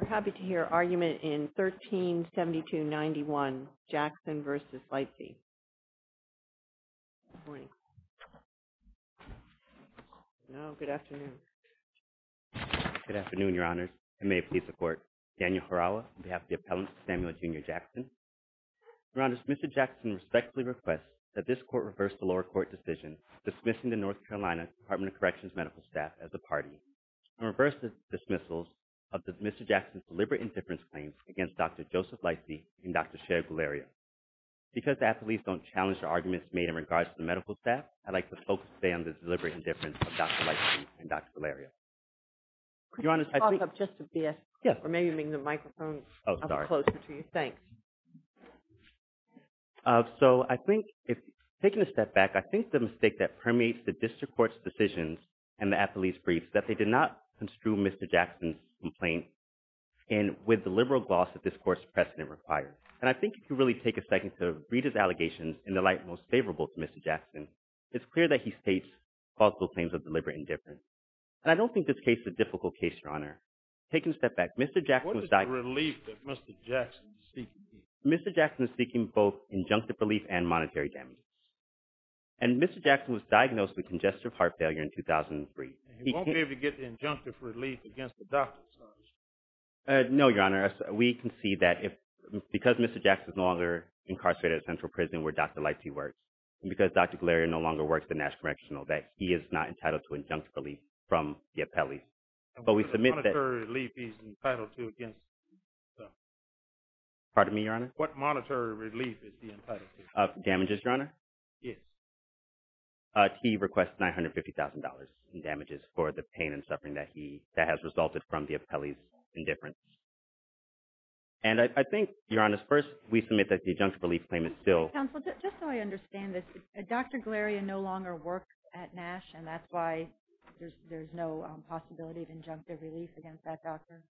We're happy to hear argument in 1372-91, Jackson v. Lightsey. Good morning. No, good afternoon. Good afternoon, Your Honors. I may please support Daniel Farawa on behalf of the appellant, Samuel Jr. Jackson. Your Honor, Mr. Jackson respectfully requests that this court reverse the lower court decision dismissing the North Carolina Department of Corrections medical staff as a party. And reverse the dismissals of Mr. Jackson's deliberate indifference claims against Dr. Joseph Lightsey and Dr. Cher Guleria. Because the athletes don't challenge the arguments made in regards to the medical staff, I'd like to focus today on the deliberate indifference of Dr. Lightsey and Dr. Guleria. Could you talk up just a bit? Yes. Or maybe bring the microphone up closer to you. Oh, sorry. Thanks. So, I think, taking a step back, I think the mistake that permeates the district court's decisions and the athletes' briefs is that they did not construe Mr. Jackson's complaint with the liberal gloss that this court's precedent requires. And I think if you really take a second to read his allegations in the light most favorable to Mr. Jackson, it's clear that he states false claims of deliberate indifference. And I don't think this case is a difficult case, Your Honor. Taking a step back, Mr. Jackson was diagnosed… What is the relief that Mr. Jackson is seeking? Mr. Jackson is seeking both injunctive relief and monetary damages. And Mr. Jackson was diagnosed with congestive heart failure in 2003. He won't be able to get the injunctive relief against the doctors, I understand. No, Your Honor. We concede that because Mr. Jackson is no longer incarcerated at Central Prison where Dr. Lightsey works and because Dr. Guleria no longer works at Nash Correctional, that he is not entitled to injunctive relief from the appellees. But we submit that… What monetary relief is he entitled to against the doctors? Pardon me, Your Honor? What monetary relief is he entitled to? Damages, Your Honor? Yes. He requests $950,000 in damages for the pain and suffering that has resulted from the appellee's indifference. And I think, Your Honor, first we submit that the injunctive relief claim is still… Counsel, just so I understand this, Dr. Guleria no longer works at Nash and that's why there's no possibility of injunctive relief against that doctor?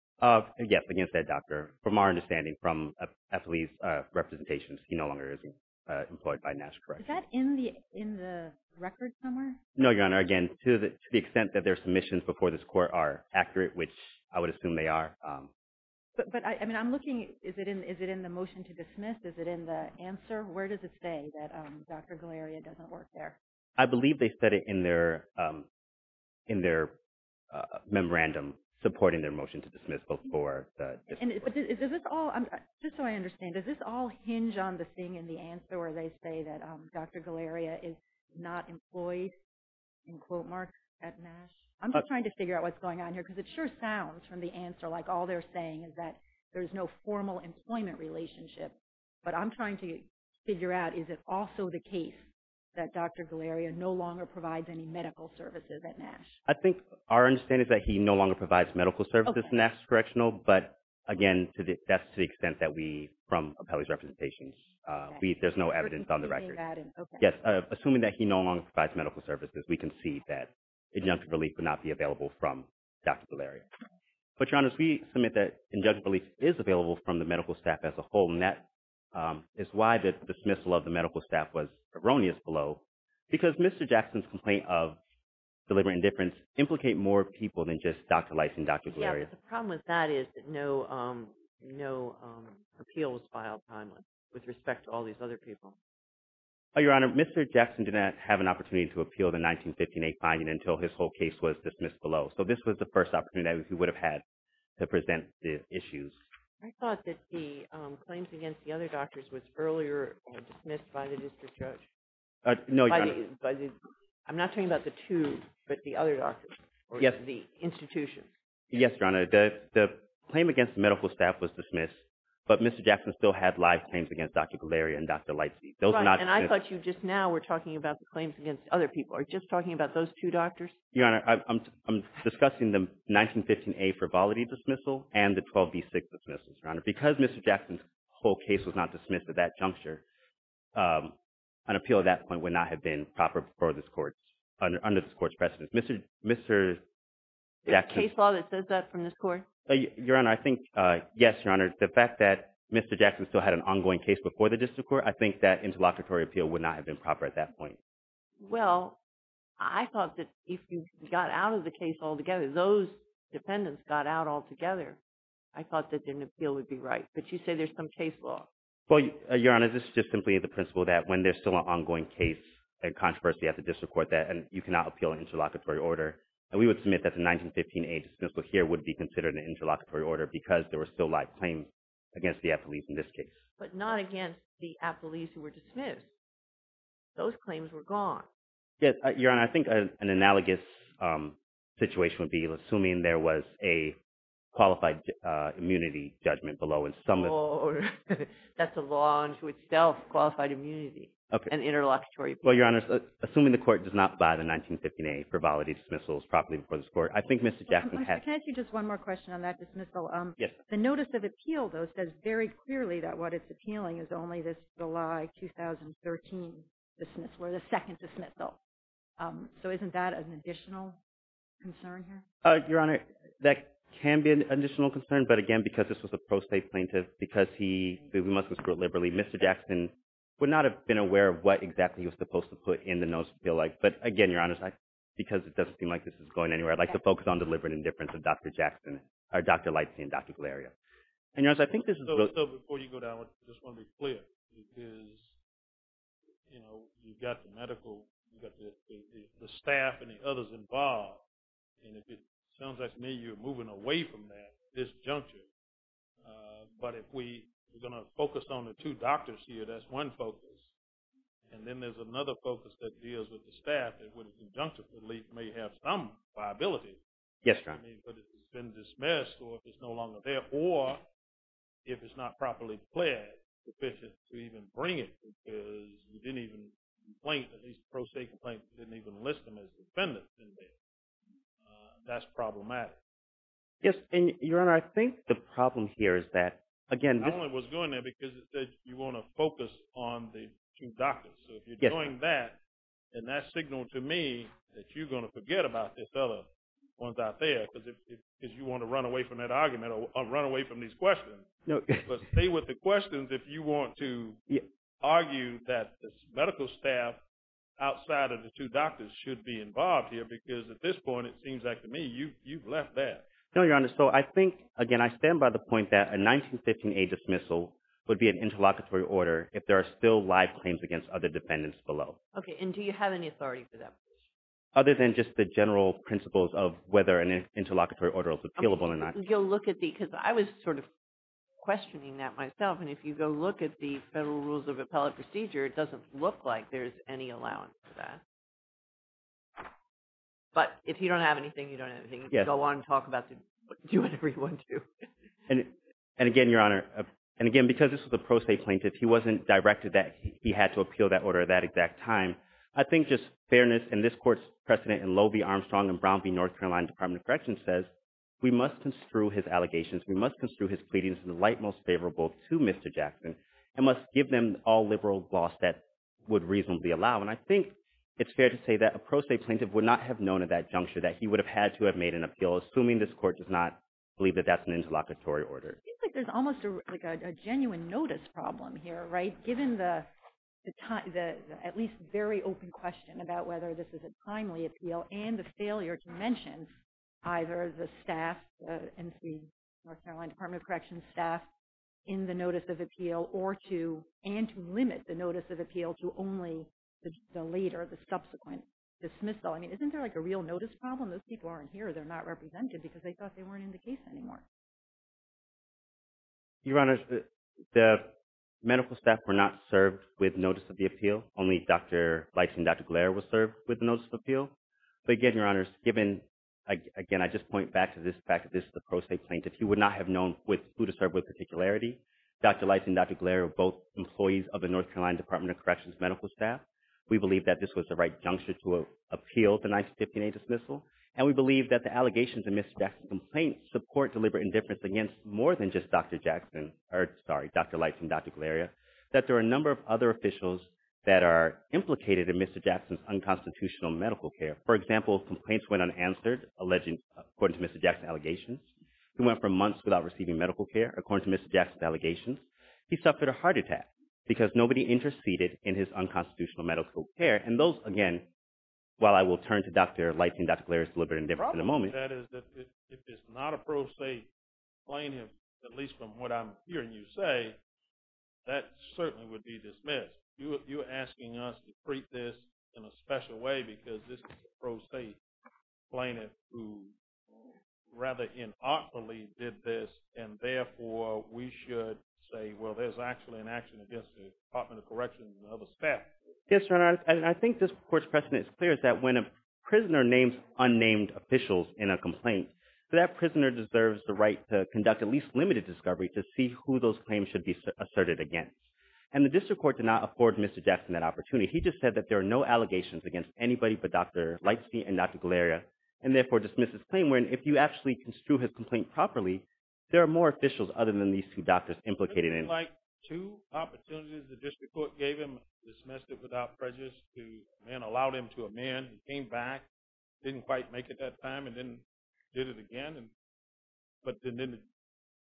Yes, against that doctor. From our understanding, from appellee's representation, he no longer is employed by Nash Correctional. Is that in the record somewhere? No, Your Honor. Again, to the extent that their submissions before this court are accurate, which I would assume they are. But I'm looking… Is it in the motion to dismiss? Is it in the answer? Where does it say that Dr. Guleria doesn't work there? I believe they said it in their memorandum supporting their motion to dismiss before the… Just so I understand, does this all hinge on the thing in the answer where they say that Dr. Guleria is not employed, in quote marks, at Nash? I'm just trying to figure out what's going on here because it sure sounds from the answer like all they're saying is that there's no formal employment relationship. But I'm trying to figure out, is it also the case that Dr. Guleria no longer provides any medical services at Nash? I think our understanding is that he no longer provides medical services at Nash Correctional. But, again, that's to the extent that we, from appellee's representations, there's no evidence on the record. Assuming that he no longer provides medical services, we concede that injunctive relief would not be available from Dr. Guleria. But, Your Honor, as we submit that injunctive relief is available from the medical staff as a whole, and that is why the dismissal of the medical staff was erroneous below. Because Mr. Jackson's complaint of deliberate indifference implicate more people than just Dr. Leis and Dr. Guleria. Yeah, but the problem with that is that no appeal was filed timely with respect to all these other people. Your Honor, Mr. Jackson did not have an opportunity to appeal the 1958 finding until his whole case was dismissed below. So this was the first opportunity that he would have had to present the issues. I thought that the claims against the other doctors was earlier dismissed by the district judge. No, Your Honor. I'm not talking about the two, but the other doctors. Yes. The other doctors were not part of the institution. Yes, Your Honor. The claim against the medical staff was dismissed, but Mr. Jackson still had live claims against Dr. Guleria and Dr. Leis. Those were not dismissed. Right, and I thought you just now were talking about the claims against other people. Are you just talking about those two doctors? Your Honor, I'm discussing the 1915A frivolity dismissal and the 12B6 dismissal, Your Honor. Because Mr. Jackson's whole case was not dismissed at that juncture, an appeal at that point would not have been proper for this Court, under this Court's precedence. Mr. Jackson… Is there a case law that says that from this Court? Your Honor, I think, yes, Your Honor. The fact that Mr. Jackson still had an ongoing case before the district court, I think that interlocutory appeal would not have been proper at that point. Well, I thought that if you got out of the case altogether, those defendants got out altogether, I thought that an appeal would be right. But you say there's some case law. Well, Your Honor, this is just simply the principle that when there's still an ongoing case, a controversy at the district court, that you cannot appeal an interlocutory order. And we would submit that the 1915A dismissal here would be considered an interlocutory order because there were still live claims against the affilees in this case. But not against the affilees who were dismissed. Those claims were gone. Yes, Your Honor, I think an analogous situation would be assuming there was a qualified immunity judgment below and some… That's a law unto itself, qualified immunity and interlocutory appeal. Well, Your Honor, assuming the Court does not buy the 1915A for validated dismissals properly before this Court, I think Mr. Jackson had… Can I ask you just one more question on that dismissal? Yes. The notice of appeal, though, says very clearly that what it's appealing is only this July 2013 dismissal or the second dismissal. So isn't that an additional concern here? Your Honor, that can be an additional concern. But, again, because this was a pro se plaintiff, because he… We mustn't screw it liberally. Mr. Jackson would not have been aware of what exactly he was supposed to put in the notice of appeal like. But, again, Your Honor, because it doesn't seem like this is going anywhere, I'd like to focus on deliberate indifference of Dr. Jackson or Dr. Lightsey and Dr. Galerio. And, Your Honor, I think this is… So before you go down, I just want to be clear. Because, you know, you've got the medical… You've got the staff and the others involved. And if it sounds like to me you're moving away from that, this juncture, but if we… We're going to focus on the two doctors here. That's one focus. And then there's another focus that deals with the staff that, when conjunctively, may have some viability. Yes, Your Honor. I mean, but if it's been dismissed, or if it's no longer there, or if it's not properly pled sufficient to even bring it, because you didn't even… At least the pro se complaint didn't even list them as defendants in there. That's problematic. Yes, and, Your Honor, I think the problem here is that, again… I don't know what's going there, because it says you want to focus on the two doctors. So if you're doing that, then that's signaling to me that you're going to forget about these other ones out there. Because you want to run away from that argument, or run away from these questions. But stay with the questions if you want to argue that the medical staff outside of the two doctors should be involved here. Because at this point, it seems like to me you've left that. No, Your Honor, so I think, again, I stand by the point that a 1915A dismissal would be an interlocutory order if there are still live claims against other defendants below. Okay, and do you have any authority for that? Other than just the general principles of whether an interlocutory order is appealable or not. You'll look at the… because I was sort of questioning that myself, and if you go look at the Federal Rules of Appellate Procedure, it doesn't look like there's any allowance for that. But if you don't have anything, you don't have anything. You can go on and talk about whatever you want to. And again, Your Honor, and again, because this was a pro se plaintiff, he wasn't directed that he had to appeal that order at that exact time. I think just fairness, and this Court's precedent in Loewe v. Armstrong and Brown v. North Carolina Department of Corrections says, we must construe his allegations, we must construe his pleadings in the light most favorable to Mr. Jackson, and must give them all liberal gloss that would reasonably allow. And I think it's fair to say that a pro se plaintiff would not have known at that juncture that he would have had to have made an appeal, assuming this Court does not believe that that's an interlocutory order. It seems like there's almost a genuine notice problem here, right, given the at least very open question about whether this is a timely appeal, and the failure to mention either the staff, the NC North Carolina Department of Corrections staff, in the notice of appeal, or to, and to limit the notice of appeal to only the later, the subsequent dismissal. I mean, isn't there like a real notice problem? Those people aren't here, they're not represented because they thought they weren't in the case anymore. Your Honor, the medical staff were not served with notice of the appeal. Only Dr. Leitz and Dr. Glare were served with notice of appeal. But again, Your Honor, given, again, I just point back to this fact that this is a pro se plaintiff, he would not have known with, who to serve with particularity. Dr. Leitz and Dr. Glare are both employees of the North Carolina Department of Corrections medical staff. We believe that this was the right juncture to appeal the 1958 dismissal, and we believe that the allegations in Mr. Jackson's complaint support deliberate indifference against more than just Dr. Jackson, or, sorry, Dr. Leitz and Dr. Glare, that there are a number of other officials that are implicated in Mr. Jackson's unconstitutional medical care. For example, complaints went unanswered, alleging, according to Mr. Jackson's allegations. Dr. Jackson spent months without receiving medical care, according to Mr. Jackson's allegations. He suffered a heart attack because nobody interceded in his unconstitutional medical care. And those, again, while I will turn to Dr. Leitz and Dr. Glare's deliberate indifference in a moment. The problem with that is that if it's not a pro se plaintiff, at least from what I'm hearing you say, that certainly would be dismissed. You're asking us to treat this in a special way because this is a pro se plaintiff who rather innocently did this, and therefore we should say, well, there's actually an action against the Department of Corrections and other staff. Yes, Your Honor, and I think this court's precedent is clear, is that when a prisoner names unnamed officials in a complaint, that prisoner deserves the right to conduct at least limited discovery to see who those claims should be asserted against. And the district court did not afford Mr. Jackson that opportunity. He just said that there are no allegations against anybody but Dr. Leitz and Dr. Glare, and therefore dismissed his claim. If you actually construe his complaint properly, there are more officials other than these two doctors implicated in it. Isn't it like two opportunities the district court gave him, dismissed it without prejudice, and allowed him to amend, he came back, didn't quite make it that time, and then did it again, but then the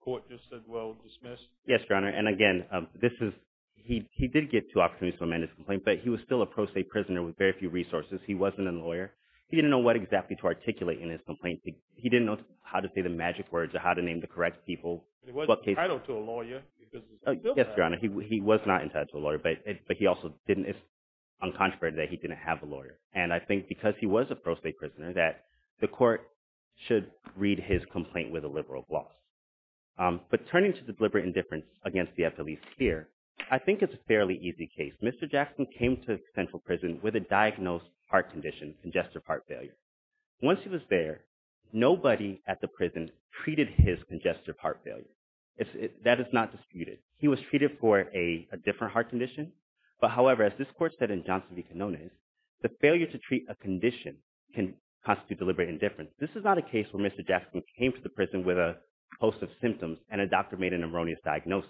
court just said, well, dismiss. Yes, Your Honor, and again, he did get two opportunities to amend his complaint, but he was still a pro se prisoner with very few resources. He wasn't a lawyer. He didn't know how to name his complaints. He didn't know how to say the magic words or how to name the correct people. He wasn't entitled to a lawyer. Yes, Your Honor, he was not entitled to a lawyer, but he also didn't, it's uncontroverted that he didn't have a lawyer. And I think because he was a pro se prisoner, that the court should read his complaint with a liberal gloss. But turning to the deliberate indifference against the FLE sphere, I think it's a fairly easy case. Mr. Jackson came to Central Prison with a diagnosed heart condition, congestive heart failure. Nobody at the prison treated his congestive heart failure. That is not disputed. He was treated for a different heart condition, but however, as this court said in Johnson v. Canones, the failure to treat a condition can constitute deliberate indifference. This is not a case where Mr. Jackson came to the prison with a host of symptoms and a doctor made an erroneous diagnosis.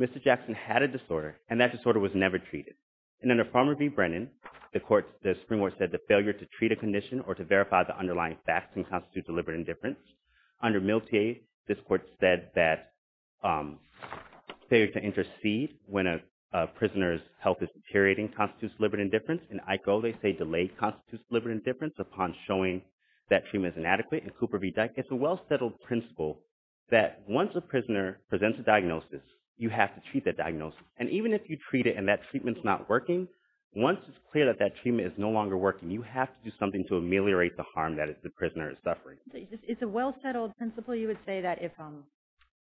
Mr. Jackson had a disorder, and that disorder was never treated. And under Farmer v. Brennan, the Supreme Court said the failure to treat a condition or to verify the underlying facts can constitute deliberate indifference. Under Miltier, this court said that failure to intercede when a prisoner's health is deteriorating constitutes deliberate indifference. In IKO, they say delayed constitutes deliberate indifference upon showing that treatment is inadequate. In Cooper v. Dyke, it's a well-settled principle that once a prisoner presents a diagnosis, you have to treat that diagnosis. And even if you treat it and that treatment's not working, once it's clear that that treatment is no longer working, you have to do something to ameliorate the harm that the prisoner is suffering. It's a well-settled principle, you would say, that if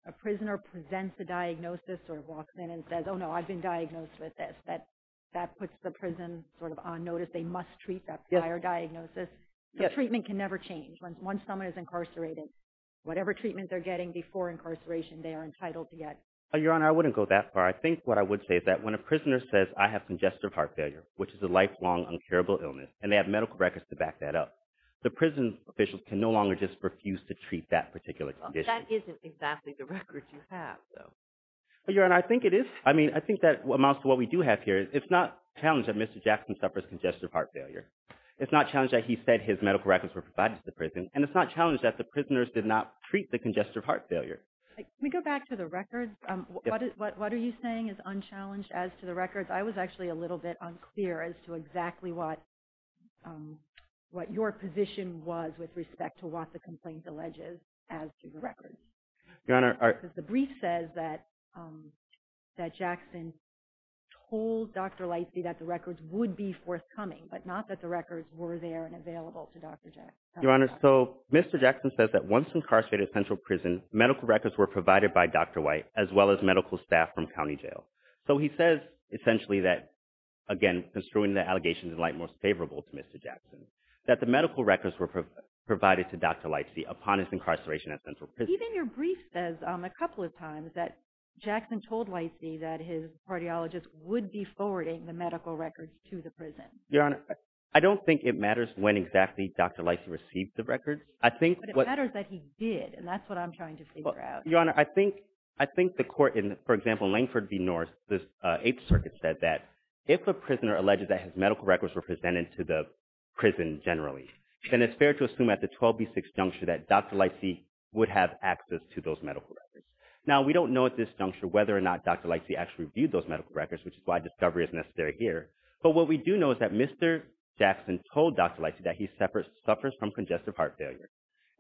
a prisoner presents a diagnosis or walks in and says, oh, no, I've been diagnosed with this, that puts the prison sort of on notice. They must treat that prior diagnosis. The treatment can never change. Once someone is incarcerated, whatever treatment they're getting before incarceration, they are entitled to get. Your Honor, I wouldn't go that far. I think what I would say is that when a prisoner says, I have congestive heart failure, you have to provide medical records to back that up. The prison officials can no longer just refuse to treat that particular condition. That isn't exactly the record you have, though. Your Honor, I think it is. I mean, I think that amounts to what we do have here. It's not challenged that Mr. Jackson suffers congestive heart failure. It's not challenged that he said his medical records were provided to the prison. And it's not challenged that the prisoners did not treat the congestive heart failure. Can we go back to the records? What are you saying is unchallenged as to the records? I was actually a little bit unclear about what your position was with respect to what the complaint alleges as to the records. The brief says that Jackson told Dr. Lightsey that the records would be forthcoming, but not that the records were there and available to Dr. Jackson. Your Honor, so Mr. Jackson says that once incarcerated at Central Prison, medical records were provided by Dr. White as well as medical staff from county jail. So he says essentially that, again, construing the allegations in light of Dr. Jackson, that the medical records were provided to Dr. Lightsey upon his incarceration at Central Prison. Even your brief says a couple of times that Jackson told Lightsey that his cardiologist would be forwarding the medical records to the prison. Your Honor, I don't think it matters when exactly Dr. Lightsey received the records. But it matters that he did, and that's what I'm trying to figure out. Your Honor, I think the court in, for example, Langford v. Norris, the Eighth Circuit said that if a prisoner alleged that his medical records were presented to the prison generally, then it's fair to assume at the 12B6 juncture that Dr. Lightsey would have access to those medical records. Now, we don't know at this juncture whether or not Dr. Lightsey actually reviewed those medical records, which is why discovery is necessary here. But what we do know is that Mr. Jackson told Dr. Lightsey that he suffers from congestive heart failure,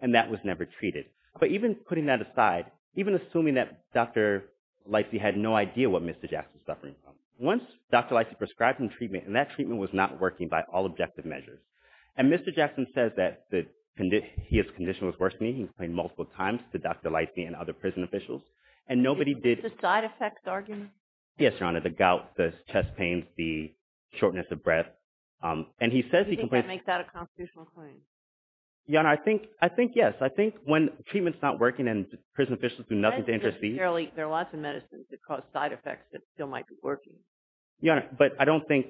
and that was never treated. But even putting that aside, even assuming that Dr. Lightsey was not working, and that treatment was not working by all objective measures. And Mr. Jackson says that his condition was worse than he complained multiple times to Dr. Lightsey and other prison officials, and nobody did… Is this a side-effects argument? Yes, Your Honor. The gout, the chest pains, the shortness of breath. And he says he complains… Do you think that makes that a constitutional claim? Your Honor, I think yes. I think when treatment's not working and prison officials do nothing to intercede… There are lots of medicines that cause side effects that still might be working. Your Honor, but I don't think…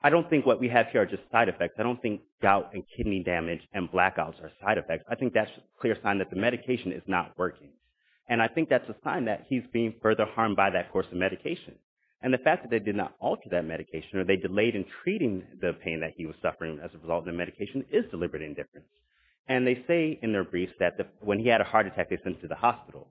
I don't think what we have here are just side effects. I don't think gout and kidney damage and blackouts are side effects. I think that's a clear sign that the medication is not working. And I think that's a sign that he's being further harmed by that course of medication. And the fact that they did not alter that medication or they delayed in treating the pain that he was suffering as a result of the medication is deliberate indifference. And they say in their briefs that when he had a heart attack, they sent him to the hospital.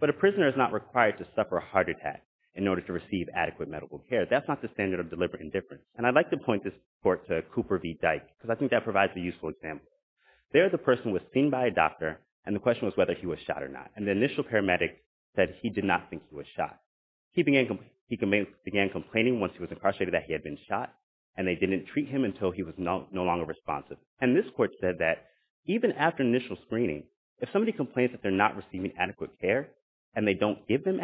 But a prisoner is not required to suffer a heart attack in order to receive adequate medical care. That's not the standard of deliberate indifference. And I'd like to point this court to Cooper v. Dyke because I think that provides a useful example. There the person was seen by a doctor and the question was whether he was shot or not. And the initial paramedic said he did not think he was shot. He began complaining once he was incarcerated that he had been shot and they didn't treat him until he was no longer responsive. And this court said that even after initial screening, if somebody complains that they're not receiving adequate care and they don't give them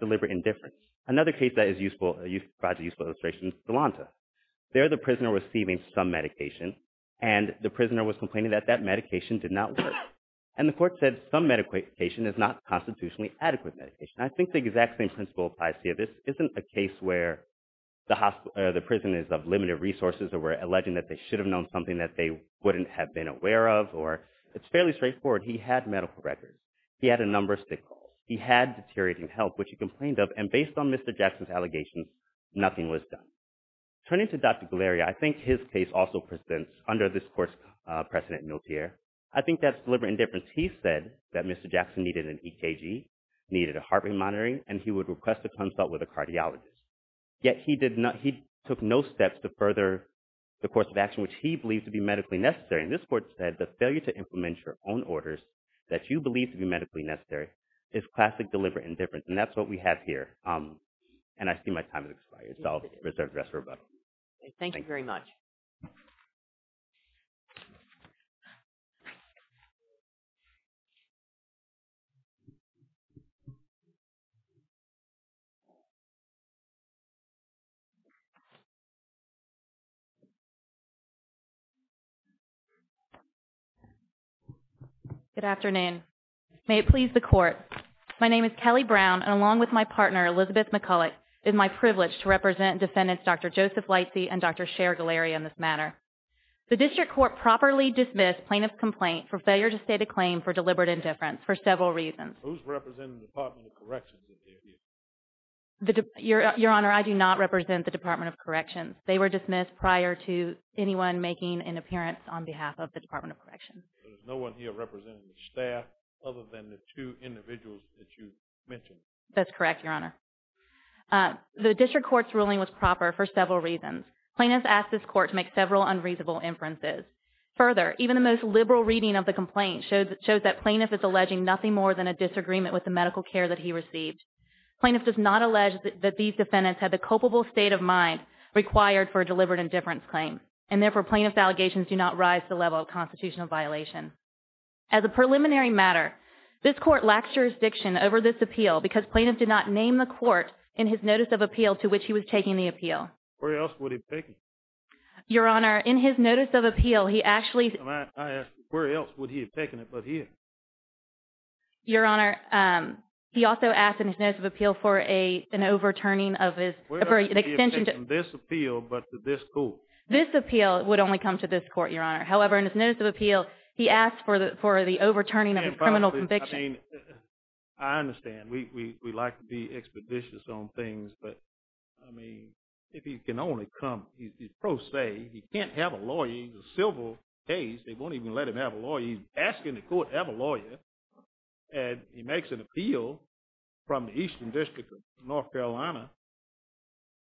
deliberate indifference, another case that is useful, provides a useful illustration, is Volonta. There the prisoner was receiving some medication and the prisoner was complaining that that medication did not work. And the court said some medication is not constitutionally adequate medication. I think the exact same principle applies here. This isn't a case where the prison is of limited resources or we're alleging that they should have known something that they wouldn't have been aware of or it's fairly straightforward. He had medical records. He had a number of signals. He had deteriorating health which he complained of and based on Mr. Jackson's allegations, nothing was done. Turning to Dr. Galeria, I think his case also presents, under this court's precedent, Miltier. I think that's deliberate indifference. He said that Mr. Jackson needed an EKG, needed a heart rate monitoring and he would request a consult with a cardiologist. Yet he took no steps to further the course of action which he believes to be medically necessary. And this court said the failure to implement your own orders that you believe to be medically necessary is classic deliberate indifference. And that's what we have here. And I see my time has expired so I'll reserve the rest for Rebecca. Thank you very much. Good afternoon. May it please the court. My name is Kelly Brown and along with my partner, Elizabeth McCulloch, it is my privilege to represent defendants Dr. Joseph Lightsey and Dr. Cher Galeria in this matter. The district court properly dismissed plaintiff's complaint for failure to state a claim for deliberate indifference for several reasons. Who's representing the Department of Corrections in here? Your Honor, I do not represent the Department of Corrections. They were dismissed prior to anyone making an appearance on behalf of the Department of Corrections. So there's no one here representing the staff other than the two individuals that you mentioned. That's correct, Your Honor. The district court's ruling was proper for several reasons. Plaintiffs asked this court to make several unreasonable inferences. Further, even the most liberal reading of the complaint shows that plaintiff is alleging nothing more than a disagreement with the medical care that he received. Plaintiff does not allege that these defendants had the culpable state of mind required for a deliberate indifference claim. And therefore, plaintiff's allegations do not rise to the level of constitutional violation. As a preliminary matter, this court lacks jurisdiction over this appeal because plaintiff did not name the court in his notice of appeal to which he was taking the appeal. Where else would he have taken it? Your Honor, in his notice of appeal, he actually… I asked you, where else would he have taken it but here? Your Honor, he also asked in his notice of appeal for an overturning of his… Where else would he have taken this appeal but to this court? This appeal would only come to this court, Your Honor. However, in his notice of appeal, he asked for the overturning of his criminal conviction. I mean, I understand. We like to be expeditious on things but, I mean, if he can only come… He's pro se. He can't have a lawyer. He's a civil case. They won't even let him have a lawyer. He's asking the court to have a lawyer and he makes an appeal from the Eastern District of North Carolina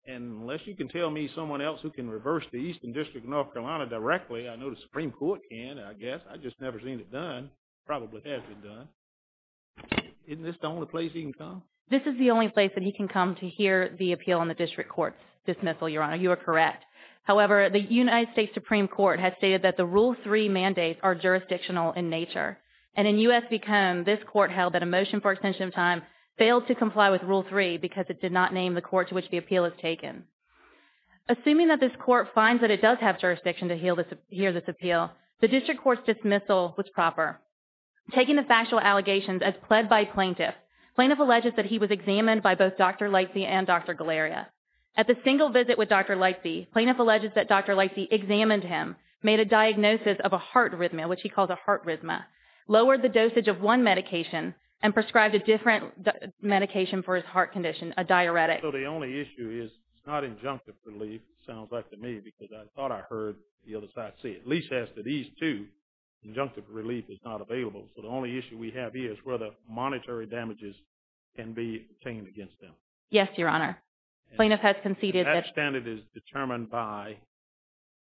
and unless you can tell me someone else who can reverse the Eastern District of North Carolina directly, I know the Supreme Court can, I guess. I've just never seen it done. Probably has been done. Isn't this the only place he can come? This is the only place that he can come to hear the appeal on the district court's dismissal, Your Honor. You are correct. However, the United States Supreme Court has stated that the Rule 3 mandates are jurisdictional in nature and in U.S. v. Cone, this court held that a motion for extension of time failed to comply with Rule 3 because it did not name the court to which the appeal is taken. Assuming that this court finds that it does have jurisdiction to hear this appeal, the district court's dismissal was proper. Taking the factual allegations as pled by plaintiff, plaintiff alleges that he was examined by both Dr. Leitze and Dr. Galleria. At the single visit with Dr. Leitze, plaintiff alleges that Dr. Leitze examined him, made a diagnosis of a heart arrhythmia, which he called a heart arrhythmia, lowered the dosage of one medication, and prescribed a different medication for his heart condition, a diuretic. So the only issue is it's not injunctive relief, it sounds like to me, because I thought I heard the other side say it. At least as to these two injunctive relief is not available. So the only issue we have here is whether monetary damages can be obtained against them. Yes, Your Honor. Plaintiff has conceded that That standard is determined by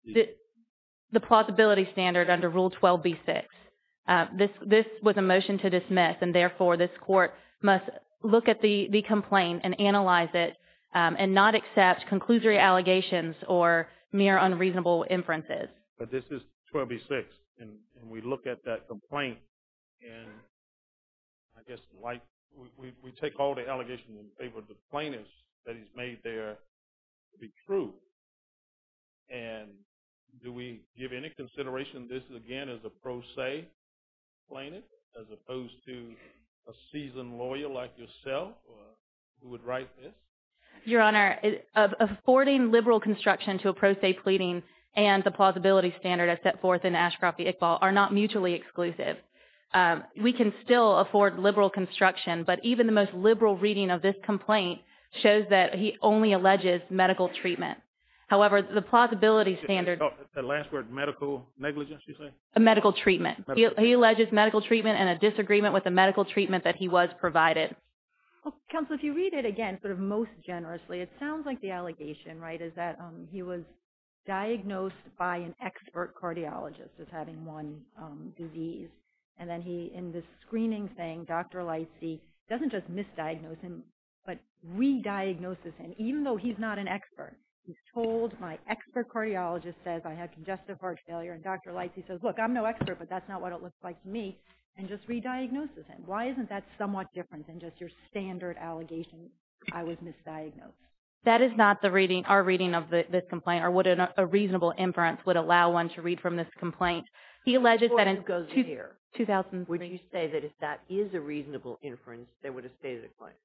the plausibility standard under Rule 12b-6. This was a motion to dismiss and therefore this court must look at the complaint and analyze it and not accept conclusory allegations or mere unreasonable inferences. But this is 12b-6 and we look at that complaint and I guess like we take all the allegations in favor of the plaintiff that he's made there to be true. And do we give any consideration this again as a pro se plaintiff as opposed to a seasoned lawyer like yourself who would write this? Your Honor, affording liberal construction to a pro se pleading and the plausibility standard I set forth in Ashcroft v. Iqbal are not mutually exclusive. We can still afford liberal construction but even the most liberal reading of this complaint shows that he only alleges medical treatment. However, the plausibility standard The last word, medical negligence you say? A medical treatment. He alleges medical treatment and a disagreement with the medical treatment that he was provided. Counsel, if you read it again sort of most generously it sounds like the allegation is that he was diagnosed by an expert cardiologist as having one disease. And then he, in the screening thing Dr. Lightsey doesn't just misdiagnose him but re-diagnoses him even though he's not an expert. He's told my expert cardiologist says I have congestive heart failure and Dr. Lightsey says look, I'm no expert but that's not what it looks like to me and just re-diagnoses him. Why isn't that somewhat different than just your standard allegation I was misdiagnosed? That is not our reading of this complaint or what a reasonable inference would allow one to read from this complaint. He alleges that in 2003 Would you say that if that is a reasonable inference they would have stated a complaint?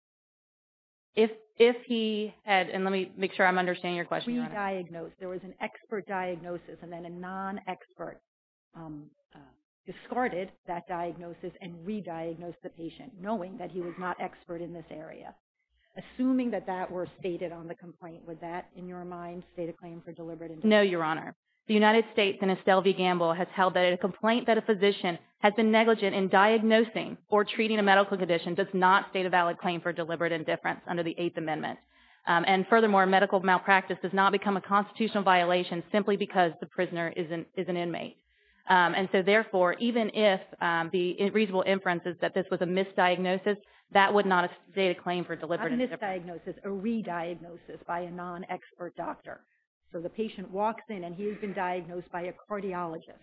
If he had and let me make sure I'm understanding your question. There was an expert diagnosis and then a non-expert discarded that diagnosis and re-diagnosed the patient knowing that he was not expert in this area. Assuming that that were stated on the complaint would that in your mind state a claim for deliberate indifference? No, Your Honor. The United States and Estelle V. Gamble has held that a complaint that a physician has been negligent in diagnosing or treating a medical condition does not state a valid claim for deliberate indifference under the Eighth Amendment and furthermore medical malpractice does not become a constitutional violation simply because the prisoner is an inmate and so therefore even if the reasonable inference is that this was a misdiagnosis that would not state a claim for deliberate indifference. Not a misdiagnosis a re-diagnosis by a non-expert doctor. So the patient walks in and he has been diagnosed by a cardiologist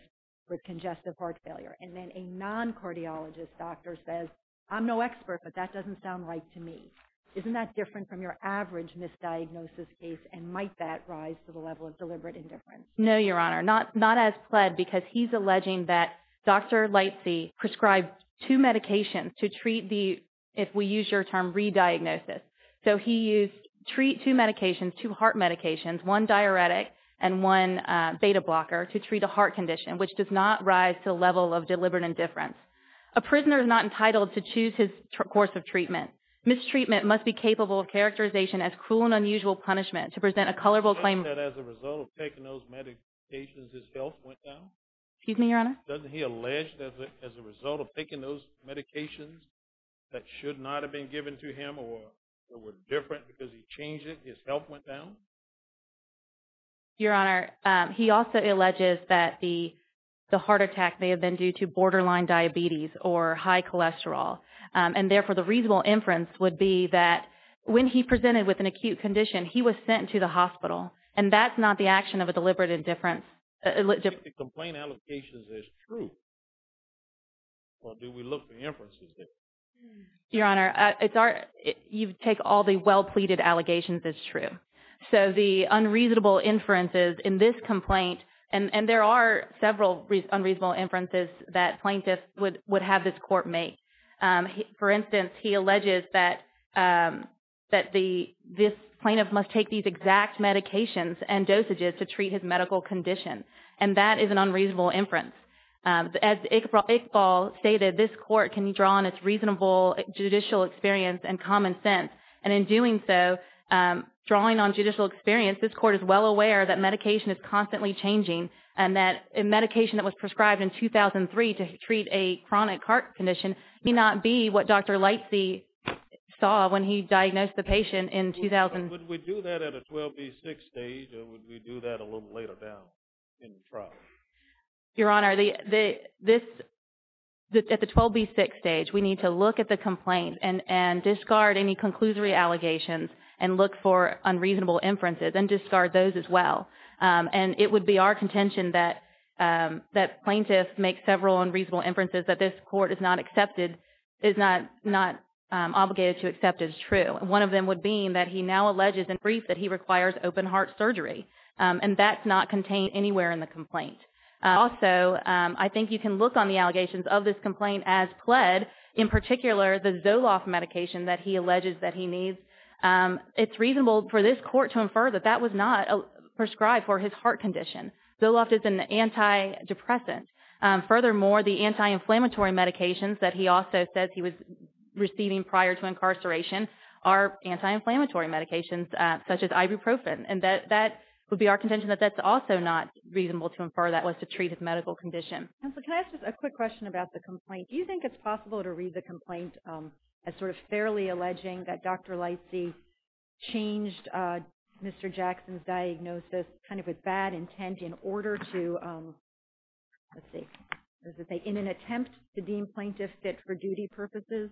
with congestive heart failure and then a non-cardiologist doctor says I'm no expert but that doesn't sound right to me. Isn't that different from your average misdiagnosis case and might that rise to the level of deliberate indifference? No, Your Honor. Not as pled because he's alleging that Dr. Lightsey prescribed two medications to treat the if we use your term re-diagnosis. So he used treat two medications two heart medications one diuretic and one beta blocker to treat a heart condition which does not rise to the level of deliberate indifference. A prisoner is not entitled to choose his course of treatment. Mistreatment must be capable of characterization as cruel and unusual punishment to present a colorful claim that as a result of taking those medications his health went down? Excuse me, Your Honor. Doesn't he allege that as a result of taking those medications that should not have been given to him or were different because he changed it his health went down? Your Honor, he also alleges that the heart attack may have been due to borderline diabetes or high cholesterol and therefore the reasonable inference would be that when he presented with an acute condition he was sent to the hospital and that's not the action of a deliberate indifference. If the complaint allocations is true or do we look for inferences? Your Honor, you take all the well pleaded allegations as true. So the unreasonable inferences in this complaint and there are several unreasonable inferences that plaintiffs would have this court make. For instance, he alleges that this plaintiff must take these exact medications and dosages to treat his medical condition and that is an unreasonable inference. As Iqbal stated, this court can draw on its reasonable judicial experience and common sense and in doing so and drawing on judicial experience this court is well aware that medication is constantly changing and that a medication that was prescribed in 2003 to treat a chronic heart condition may not be what Dr. Lightsey saw when he diagnosed the patient in 2000. Would we do that at a 12B6 stage or would we do that a little later down in trial? Your Honor, this at the 12B6 stage we need to look at the complaint and discard any conclusory allegations and look for unreasonable inferences and discard those as well and it would be our contention that plaintiffs make several unreasonable inferences that this court is not accepted is not not obligated to accept as true and one of them would be that he now alleges in brief that he requires open heart surgery and that's not contained anywhere in the complaint. Also, I think you can look on the allegations of this complaint as pled in particular the Zoloft medication that he alleges that he needs. It's reasonable for this court to infer that that was not prescribed for his heart condition. Zoloft is an anti-depressant. Furthermore, the anti-inflammatory medications that he also says he was receiving prior to incarceration are anti-inflammatory medications such as ibuprofen and that that would be our contention that that's also not reasonable to infer that was to treat his medical condition. Counselor, are you really alleging that Dr. Lightsey changed Mr. Jackson's diagnosis kind of with bad intent in order to let's see in an attempt to deem plaintiff fit for duty purposes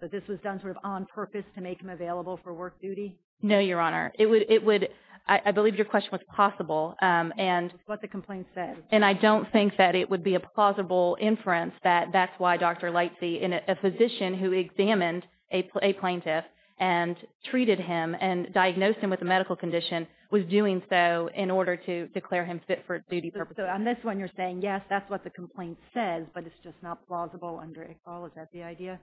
that this was done sort of on purpose to make him available for work duty? No, Your Honor. It would I believe your question was possible and that's what the complaint said and I don't think that it would be a plausible inference that that's why Dr. Lightsey in a physician who examined a plaintiff and treated him and diagnosed him with a medical condition was doing so in order to declare him fit for duty purposes. So on this one you're saying yes that's what the complaint says but it's just not plausible under Iqbal. Is that the idea?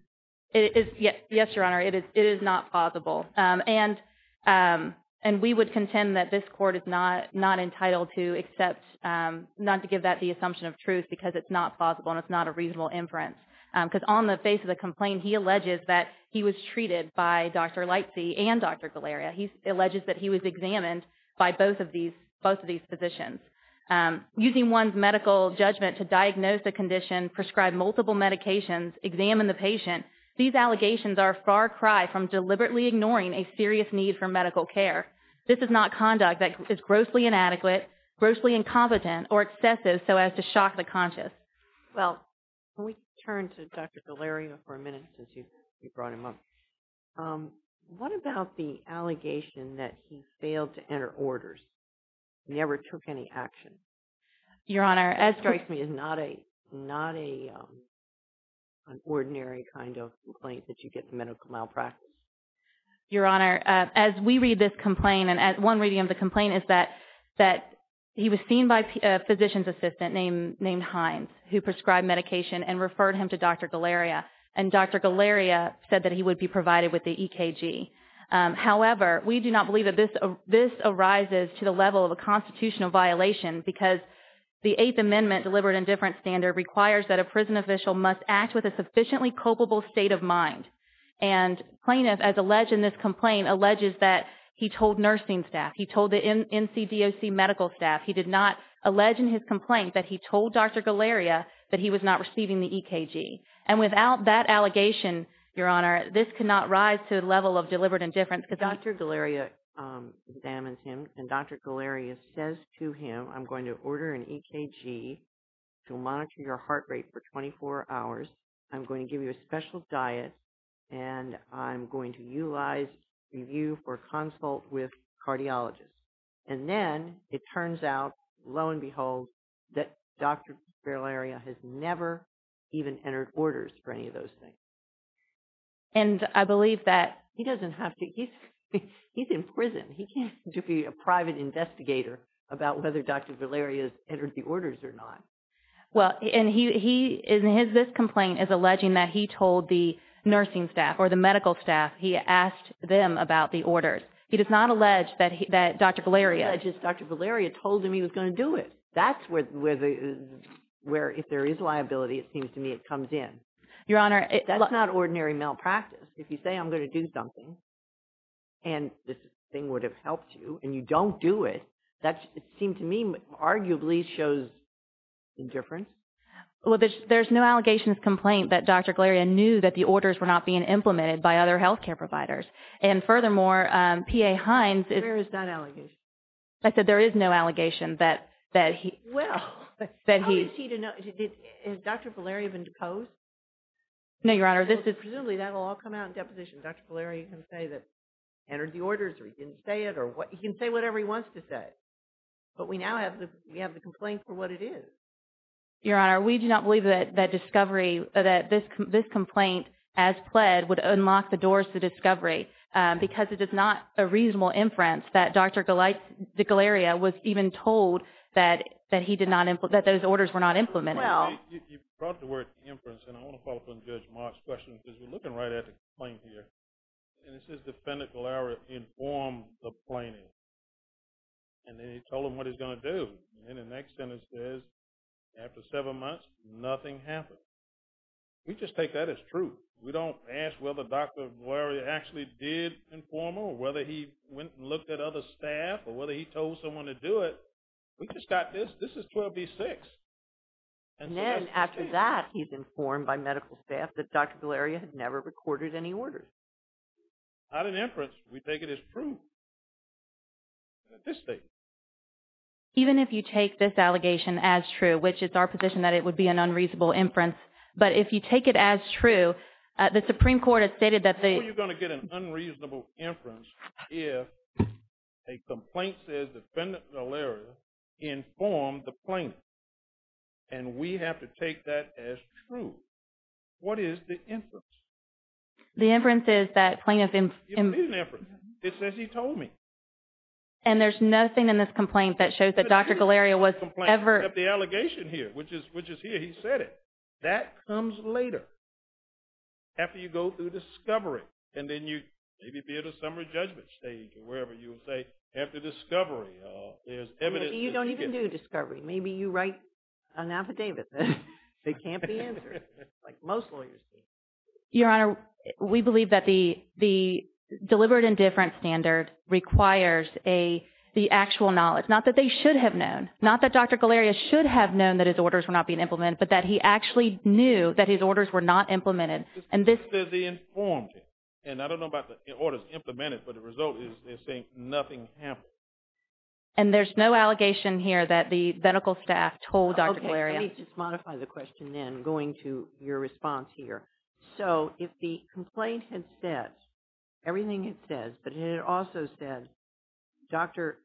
Yes, Your Honor. It is not plausible and we would contend that this court is not entitled to accept and not to give that the assumption of truth because it's not plausible and it's not a reasonable inference because on the face of the complaint he alleges that he was treated by Dr. Lightsey and Dr. Galeria. He alleges that he was examined by both of these physicians. Using one's medical judgment to diagnose a condition, prescribe multiple medications, examine the patient, these allegations are far cry from deliberately ignoring a serious need for medical care. This is not conduct that is grossly inadequate, grossly incompetent or excessive so as to shock the conscious. Well, can we turn to Dr. Galeria for a minute since you brought him up? What about the allegation that he failed to enter orders, never took any action? Your Honor, that strikes me as not a not an ordinary kind of complaint that you get from medical malpractice. Your Honor, as we read this complaint and one reading of the complaint is that Dr. Galeria that he was seen by a physician's assistant named Hines who prescribed medication and referred him to Dr. Galeria and Dr. Galeria said that he would be provided with the EKG. However, we do not believe that this arises to the level of a constitutional violation because the Eighth Amendment delivered in different standard requires that a prison official must act with a sufficiently culpable state of mind and plaintiff as alleged in this complaint alleges that he told nursing staff, he told the NCDOC medical staff, he did not allege in his complaint that he told Dr. Galeria that he was not receiving the EKG and without that allegation Your Honor, this cannot rise to the level of deliberate indifference because Dr. Galeria examines him and Dr. Galeria says to him I'm going to order an EKG to monitor your heart rate for 24 hours I'm going to give you a special diet and I'm going to utilize review for consult with cardiologists and then it turns out lo and behold that Dr. Galeria has never even entered orders for any of those things. And I believe that he doesn't have to he's in prison he can't just be a private investigator about whether Dr. Galeria has entered the orders or not. Well, and he in this complaint is alleging that he told the nursing staff or the medical staff he asked them about the orders. He does not allege that Dr. Galeria He alleges Dr. Galeria told him he was going to do it. That's where if there is liability it seems to me it comes in. Your Honor, That's not ordinary malpractice. If you say I'm going to do something and this thing would have helped you and you don't do it that seems to me arguably shows indifference. Well, there's no allegations complaint that Dr. Galeria knew that the orders were not being implemented by other health care providers. And furthermore, P.A. Hines Where is that allegation? I said there is no allegation that he Well, how is he to know? Has Dr. Galeria been deposed? No, Your Honor, this is Presumably that will all come out in deposition. Dr. Galeria can say that entered the orders or he didn't say it or he can say whatever he wants to say. have the complaint for what it is. Your Honor, we do not believe that discovery that this complaint as pled would unlock the doors to discovery because it is not a reasonable inference that Dr. Galeria was even told that those orders were not implemented. Well, You brought the word inference and I want to follow up on Judge Mark's question because we are looking right at the complaint here and it says Defendant Galeria informed the plaintiff and then he told him what he was going to do. And then the next sentence says after seven months nothing happened. We just take that as truth. We don't ask whether Dr. Galeria actually did inform or whether he went and looked at other staff or whether he told someone to do it. We just got this. This is 12B6. And then after that he is informed by medical staff that Dr. Galeria And then we have to take this allegation as true which is our position that it would be an unreasonable inference. But if you take it as true, the Supreme Court has stated that the How are you going to get an unreasonable inference if a complaint says Defendant Galeria informed the plaintiff of the allegation here which is here. He said it. That comes later after you go through discovery and then you maybe be at a summary judgment stage or wherever you say after discovery there's evidence You don't even do discovery. Maybe you write an affidavit that can't be answered like most lawyers do. Your Honor, we believe that the deliberate indifference standard requires the actual knowledge, not that they should have known, not that Dr. Galeria should have known that his orders were not being implemented, but that he actually knew that his orders were not implemented. And there's no allegation here that the medical staff told Dr. Galeria. Let me modify the response here. So, if the complaint had said, everything it says, but it also said, Dr.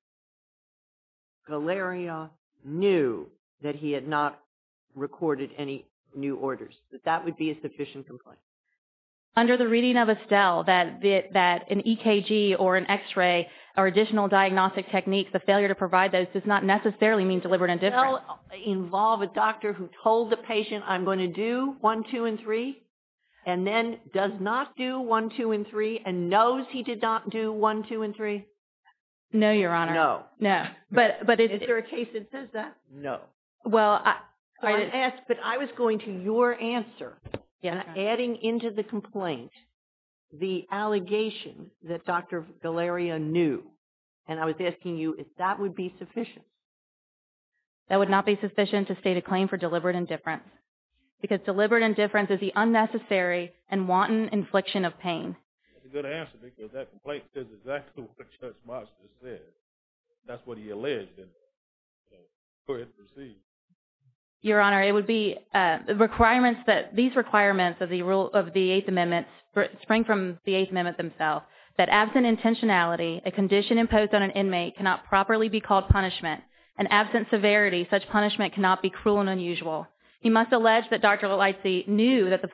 Galeria knew that he had not recorded any new orders, that that would be a sufficient complaint. Under the reading of Estelle, that an EKG or an X-ray or additional diagnostic techniques, the failure to provide those does not necessarily indifference. Does Estelle involve a doctor who told the patient, I'm going to do 1, 2, and 3, and then does not do 1, 2, and 3, and knows he did not do 1, 2, and 3? No, Your Honor. No. No. Is there a case that says that? No. Well, I asked, but I was going to your answer. Adding into the complaint the allegation that Dr. Galeria knew, and I was asking you if that would be sufficient. That would not be sufficient to state a claim for deliberate indifference because deliberate indifference is the unnecessary and wanton infliction of pain. That's a good answer because that complaint says exactly what Judge Galeria said. Your Honor, it would be requirements that these requirements of the rule of the Eighth Amendment spring from the Eighth Amendment themselves, that absent intentionality, a condition imposed on an inmate cannot properly be called punishment, and absent severity, such punishment cannot be cruel and unusual. He must allege that Dr. Galeria did not know. If it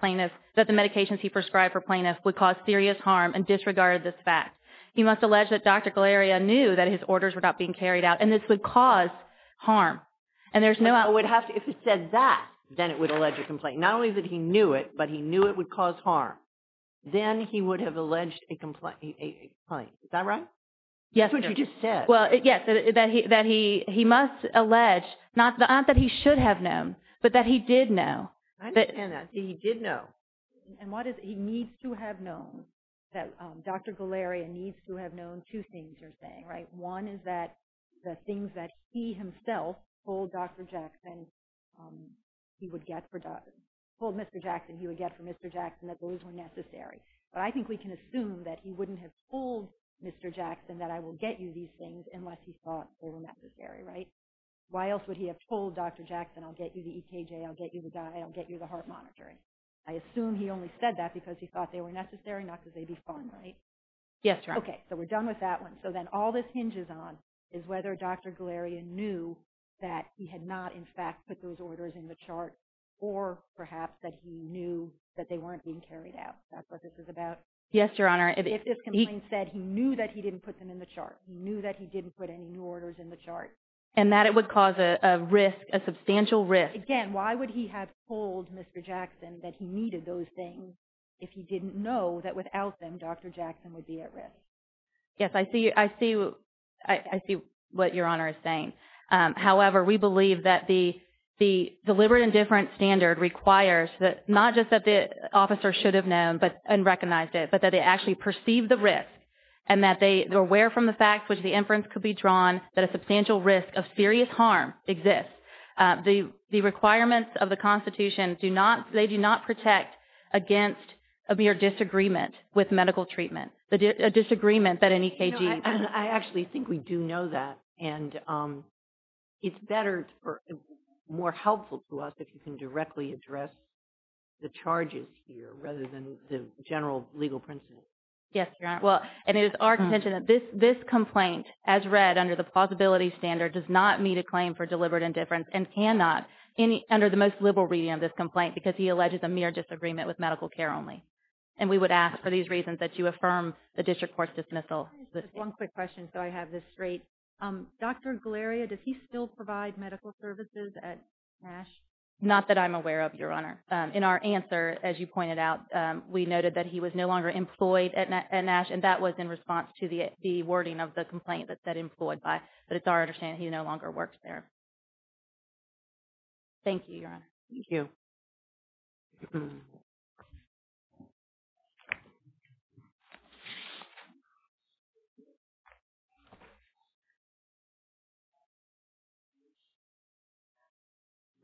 says that, then it would allege a complaint. Not only that he knew it, but he knew it would cause harm. Then he would have alleged a complaint. Is that right? That's what you just said. Yes, that he must allege, not that he should have known, but that he did know. I understand that. He did know. He needs to have known that Dr. Galeria needs to have known two things you're saying. One is that the things that he himself told Dr. Jackson he would get for Mr. Jackson that those were necessary. I think we can assume that he wouldn't have told Mr. Jackson that I will get you these things unless he thought they were necessary. Why else would he have told Dr. Jackson I'll get you the EKJ, I'll get you the heart monitoring. I assume he only said that because he thought they were necessary, not because he thought they would be fun. We're done with that one. All this hinges on whether Dr. Galeria knew that he had not put those orders in the chart or perhaps he knew they weren't being carried out. He knew he didn't put them in the chart. He knew he didn't put any orders in the chart. And that it would cause a risk, a substantial risk. Again, why would he have told Mr. Jackson that he needed those things if he didn't know that without them Dr. Jackson would be at risk. Yes, I see what Your Honor is saying. However, we believe that the deliberate and different standard requires not just that the officer should have known and recognized it but that they actually perceived the risk and that they were aware from the fact that a substantial risk of serious harm exists. The requirements of the Constitution do not protect against a mere disagreement with medical treatment. A disagreement that an EKG I actually think we do know that and it's better or more helpful to us if you can directly address the charges here rather than the general legal Yes, Your Honor. Well, it is our contention that this complaint as read under the plausibility standard does not meet a claim for deliberate dismissal. One quick question so I have this straight. Dr. Galeria, does he still provide medical services at NASH? Not that I'm aware of, Your Honor. In our answer, as you pointed out, we noted that he was no longer employed at NASH and that was in response to the wording of the complaint that employed by but it's our understanding that he no longer works Thank you, Your Honor. Thank you.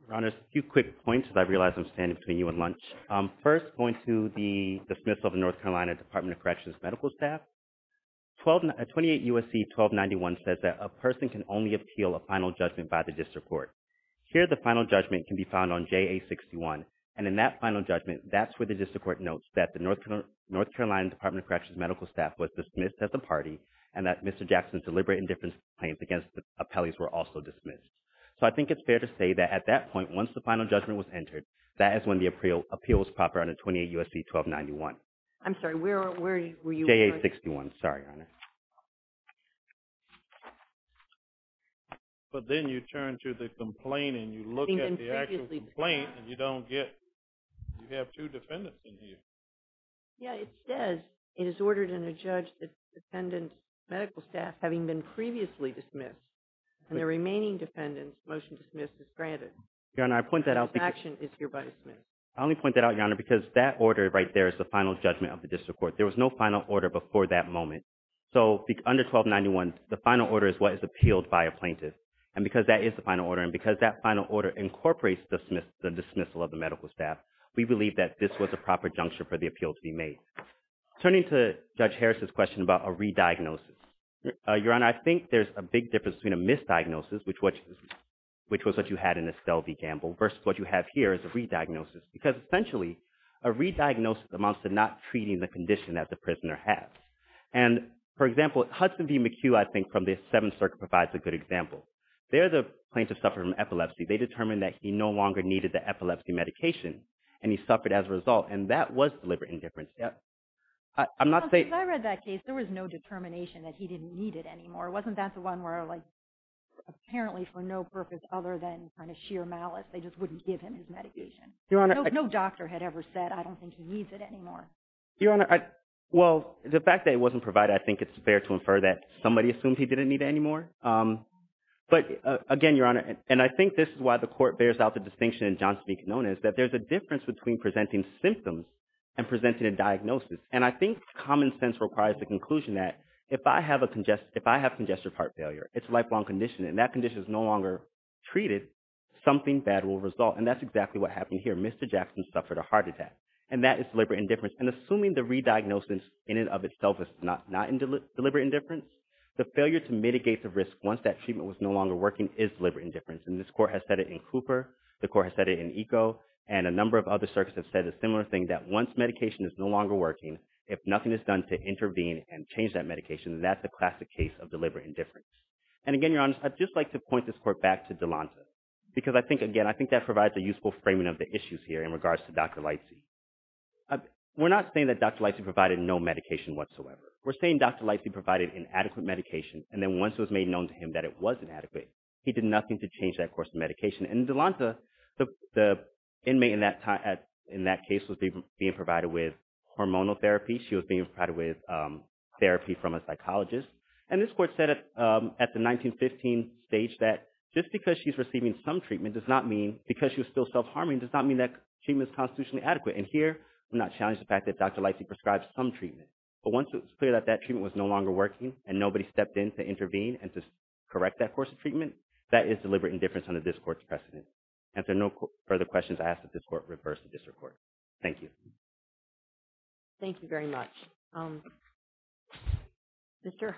Your Honor, just a few quick points as I realize I'm standing between you and lunch. First, going to the the North Carolina Department of Corrections medical staff, 28 U.S.C. 1291 says that a person can only obtain medical services if they are dismissed. And because that is the final order and because that final order incorporates the dismissal of the medical staff, we believe that this was a proper juncture for the appeal to be made. Turning to Judge Harris's question about a re-diagnosis, Your Honor, I think there's a big difference between a misdiagnosis, which was what you had in Estelle v. Gamble, versus what you have here as a re-diagnosis. Because essentially, a re-diagnosis amounts to not treating the condition that the prisoner has. And, for example, Hudson v. McHugh, I think, from the Seventh Circuit, provides a good example. They're the plaintiffs suffering from epilepsy. They determined that he no longer had a medical purpose other than sheer malice. They just wouldn't give him his medication. No doctor had ever said, I don't think he needs it anymore. Your Honor, well, the fact that it wasn't provided, I think it's fair to infer that somebody assumed he didn't need it anymore. But, if I have congestive heart failure, it's a lifelong condition, and that condition is no longer treated, something bad will result. And that's exactly what happened here. Mr. Jackson suffered a heart attack. And that is deliberate indifference. And assuming the re-diagnosis in and of itself is not deliberate indifference, the failure to mitigate the risk once that no longer working is deliberate indifference. And this court has said it in Cooper, the court has said it in Eco, and a number of other circuits have said a similar thing, that once medication is no longer working, if nothing is done to intervene and change that medication, that's a classic case of deliberate indifference. And again, Your Honor, I'd just like to point this court back to Delonta. Because I think, again, I think that provides a useful framing of the issues here in regards to Dr. Leitze. We're not saying that Dr. Leitze provided no medication whatsoever. We're saying Dr. Leitze provided no hormonal therapy. She was being provided with therapy from a psychologist. And this court said at the 1915 stage that just because she was still self-harming does not mean that treatment is constitutionally adequate. And here, I'm not challenging the fact that Dr. Leitze prescribed some treatment. But once it was clear that that treatment was no longer working and nobody stepped in to intervene and correct that course of treatment, that is deliberate indifference on the district court's precedent. And if there are no further questions, I ask that this court reverse the district court. Thank you. Thank you very much. Mr. Clerk,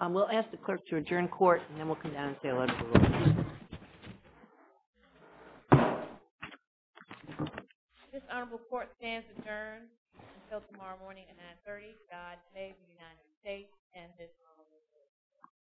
I will ask the clerk to adjourn court and then we'll come down and say a letter to the witness. This honorable court stands adjourned until tomorrow morning at 930. God save the United States and this honorable court.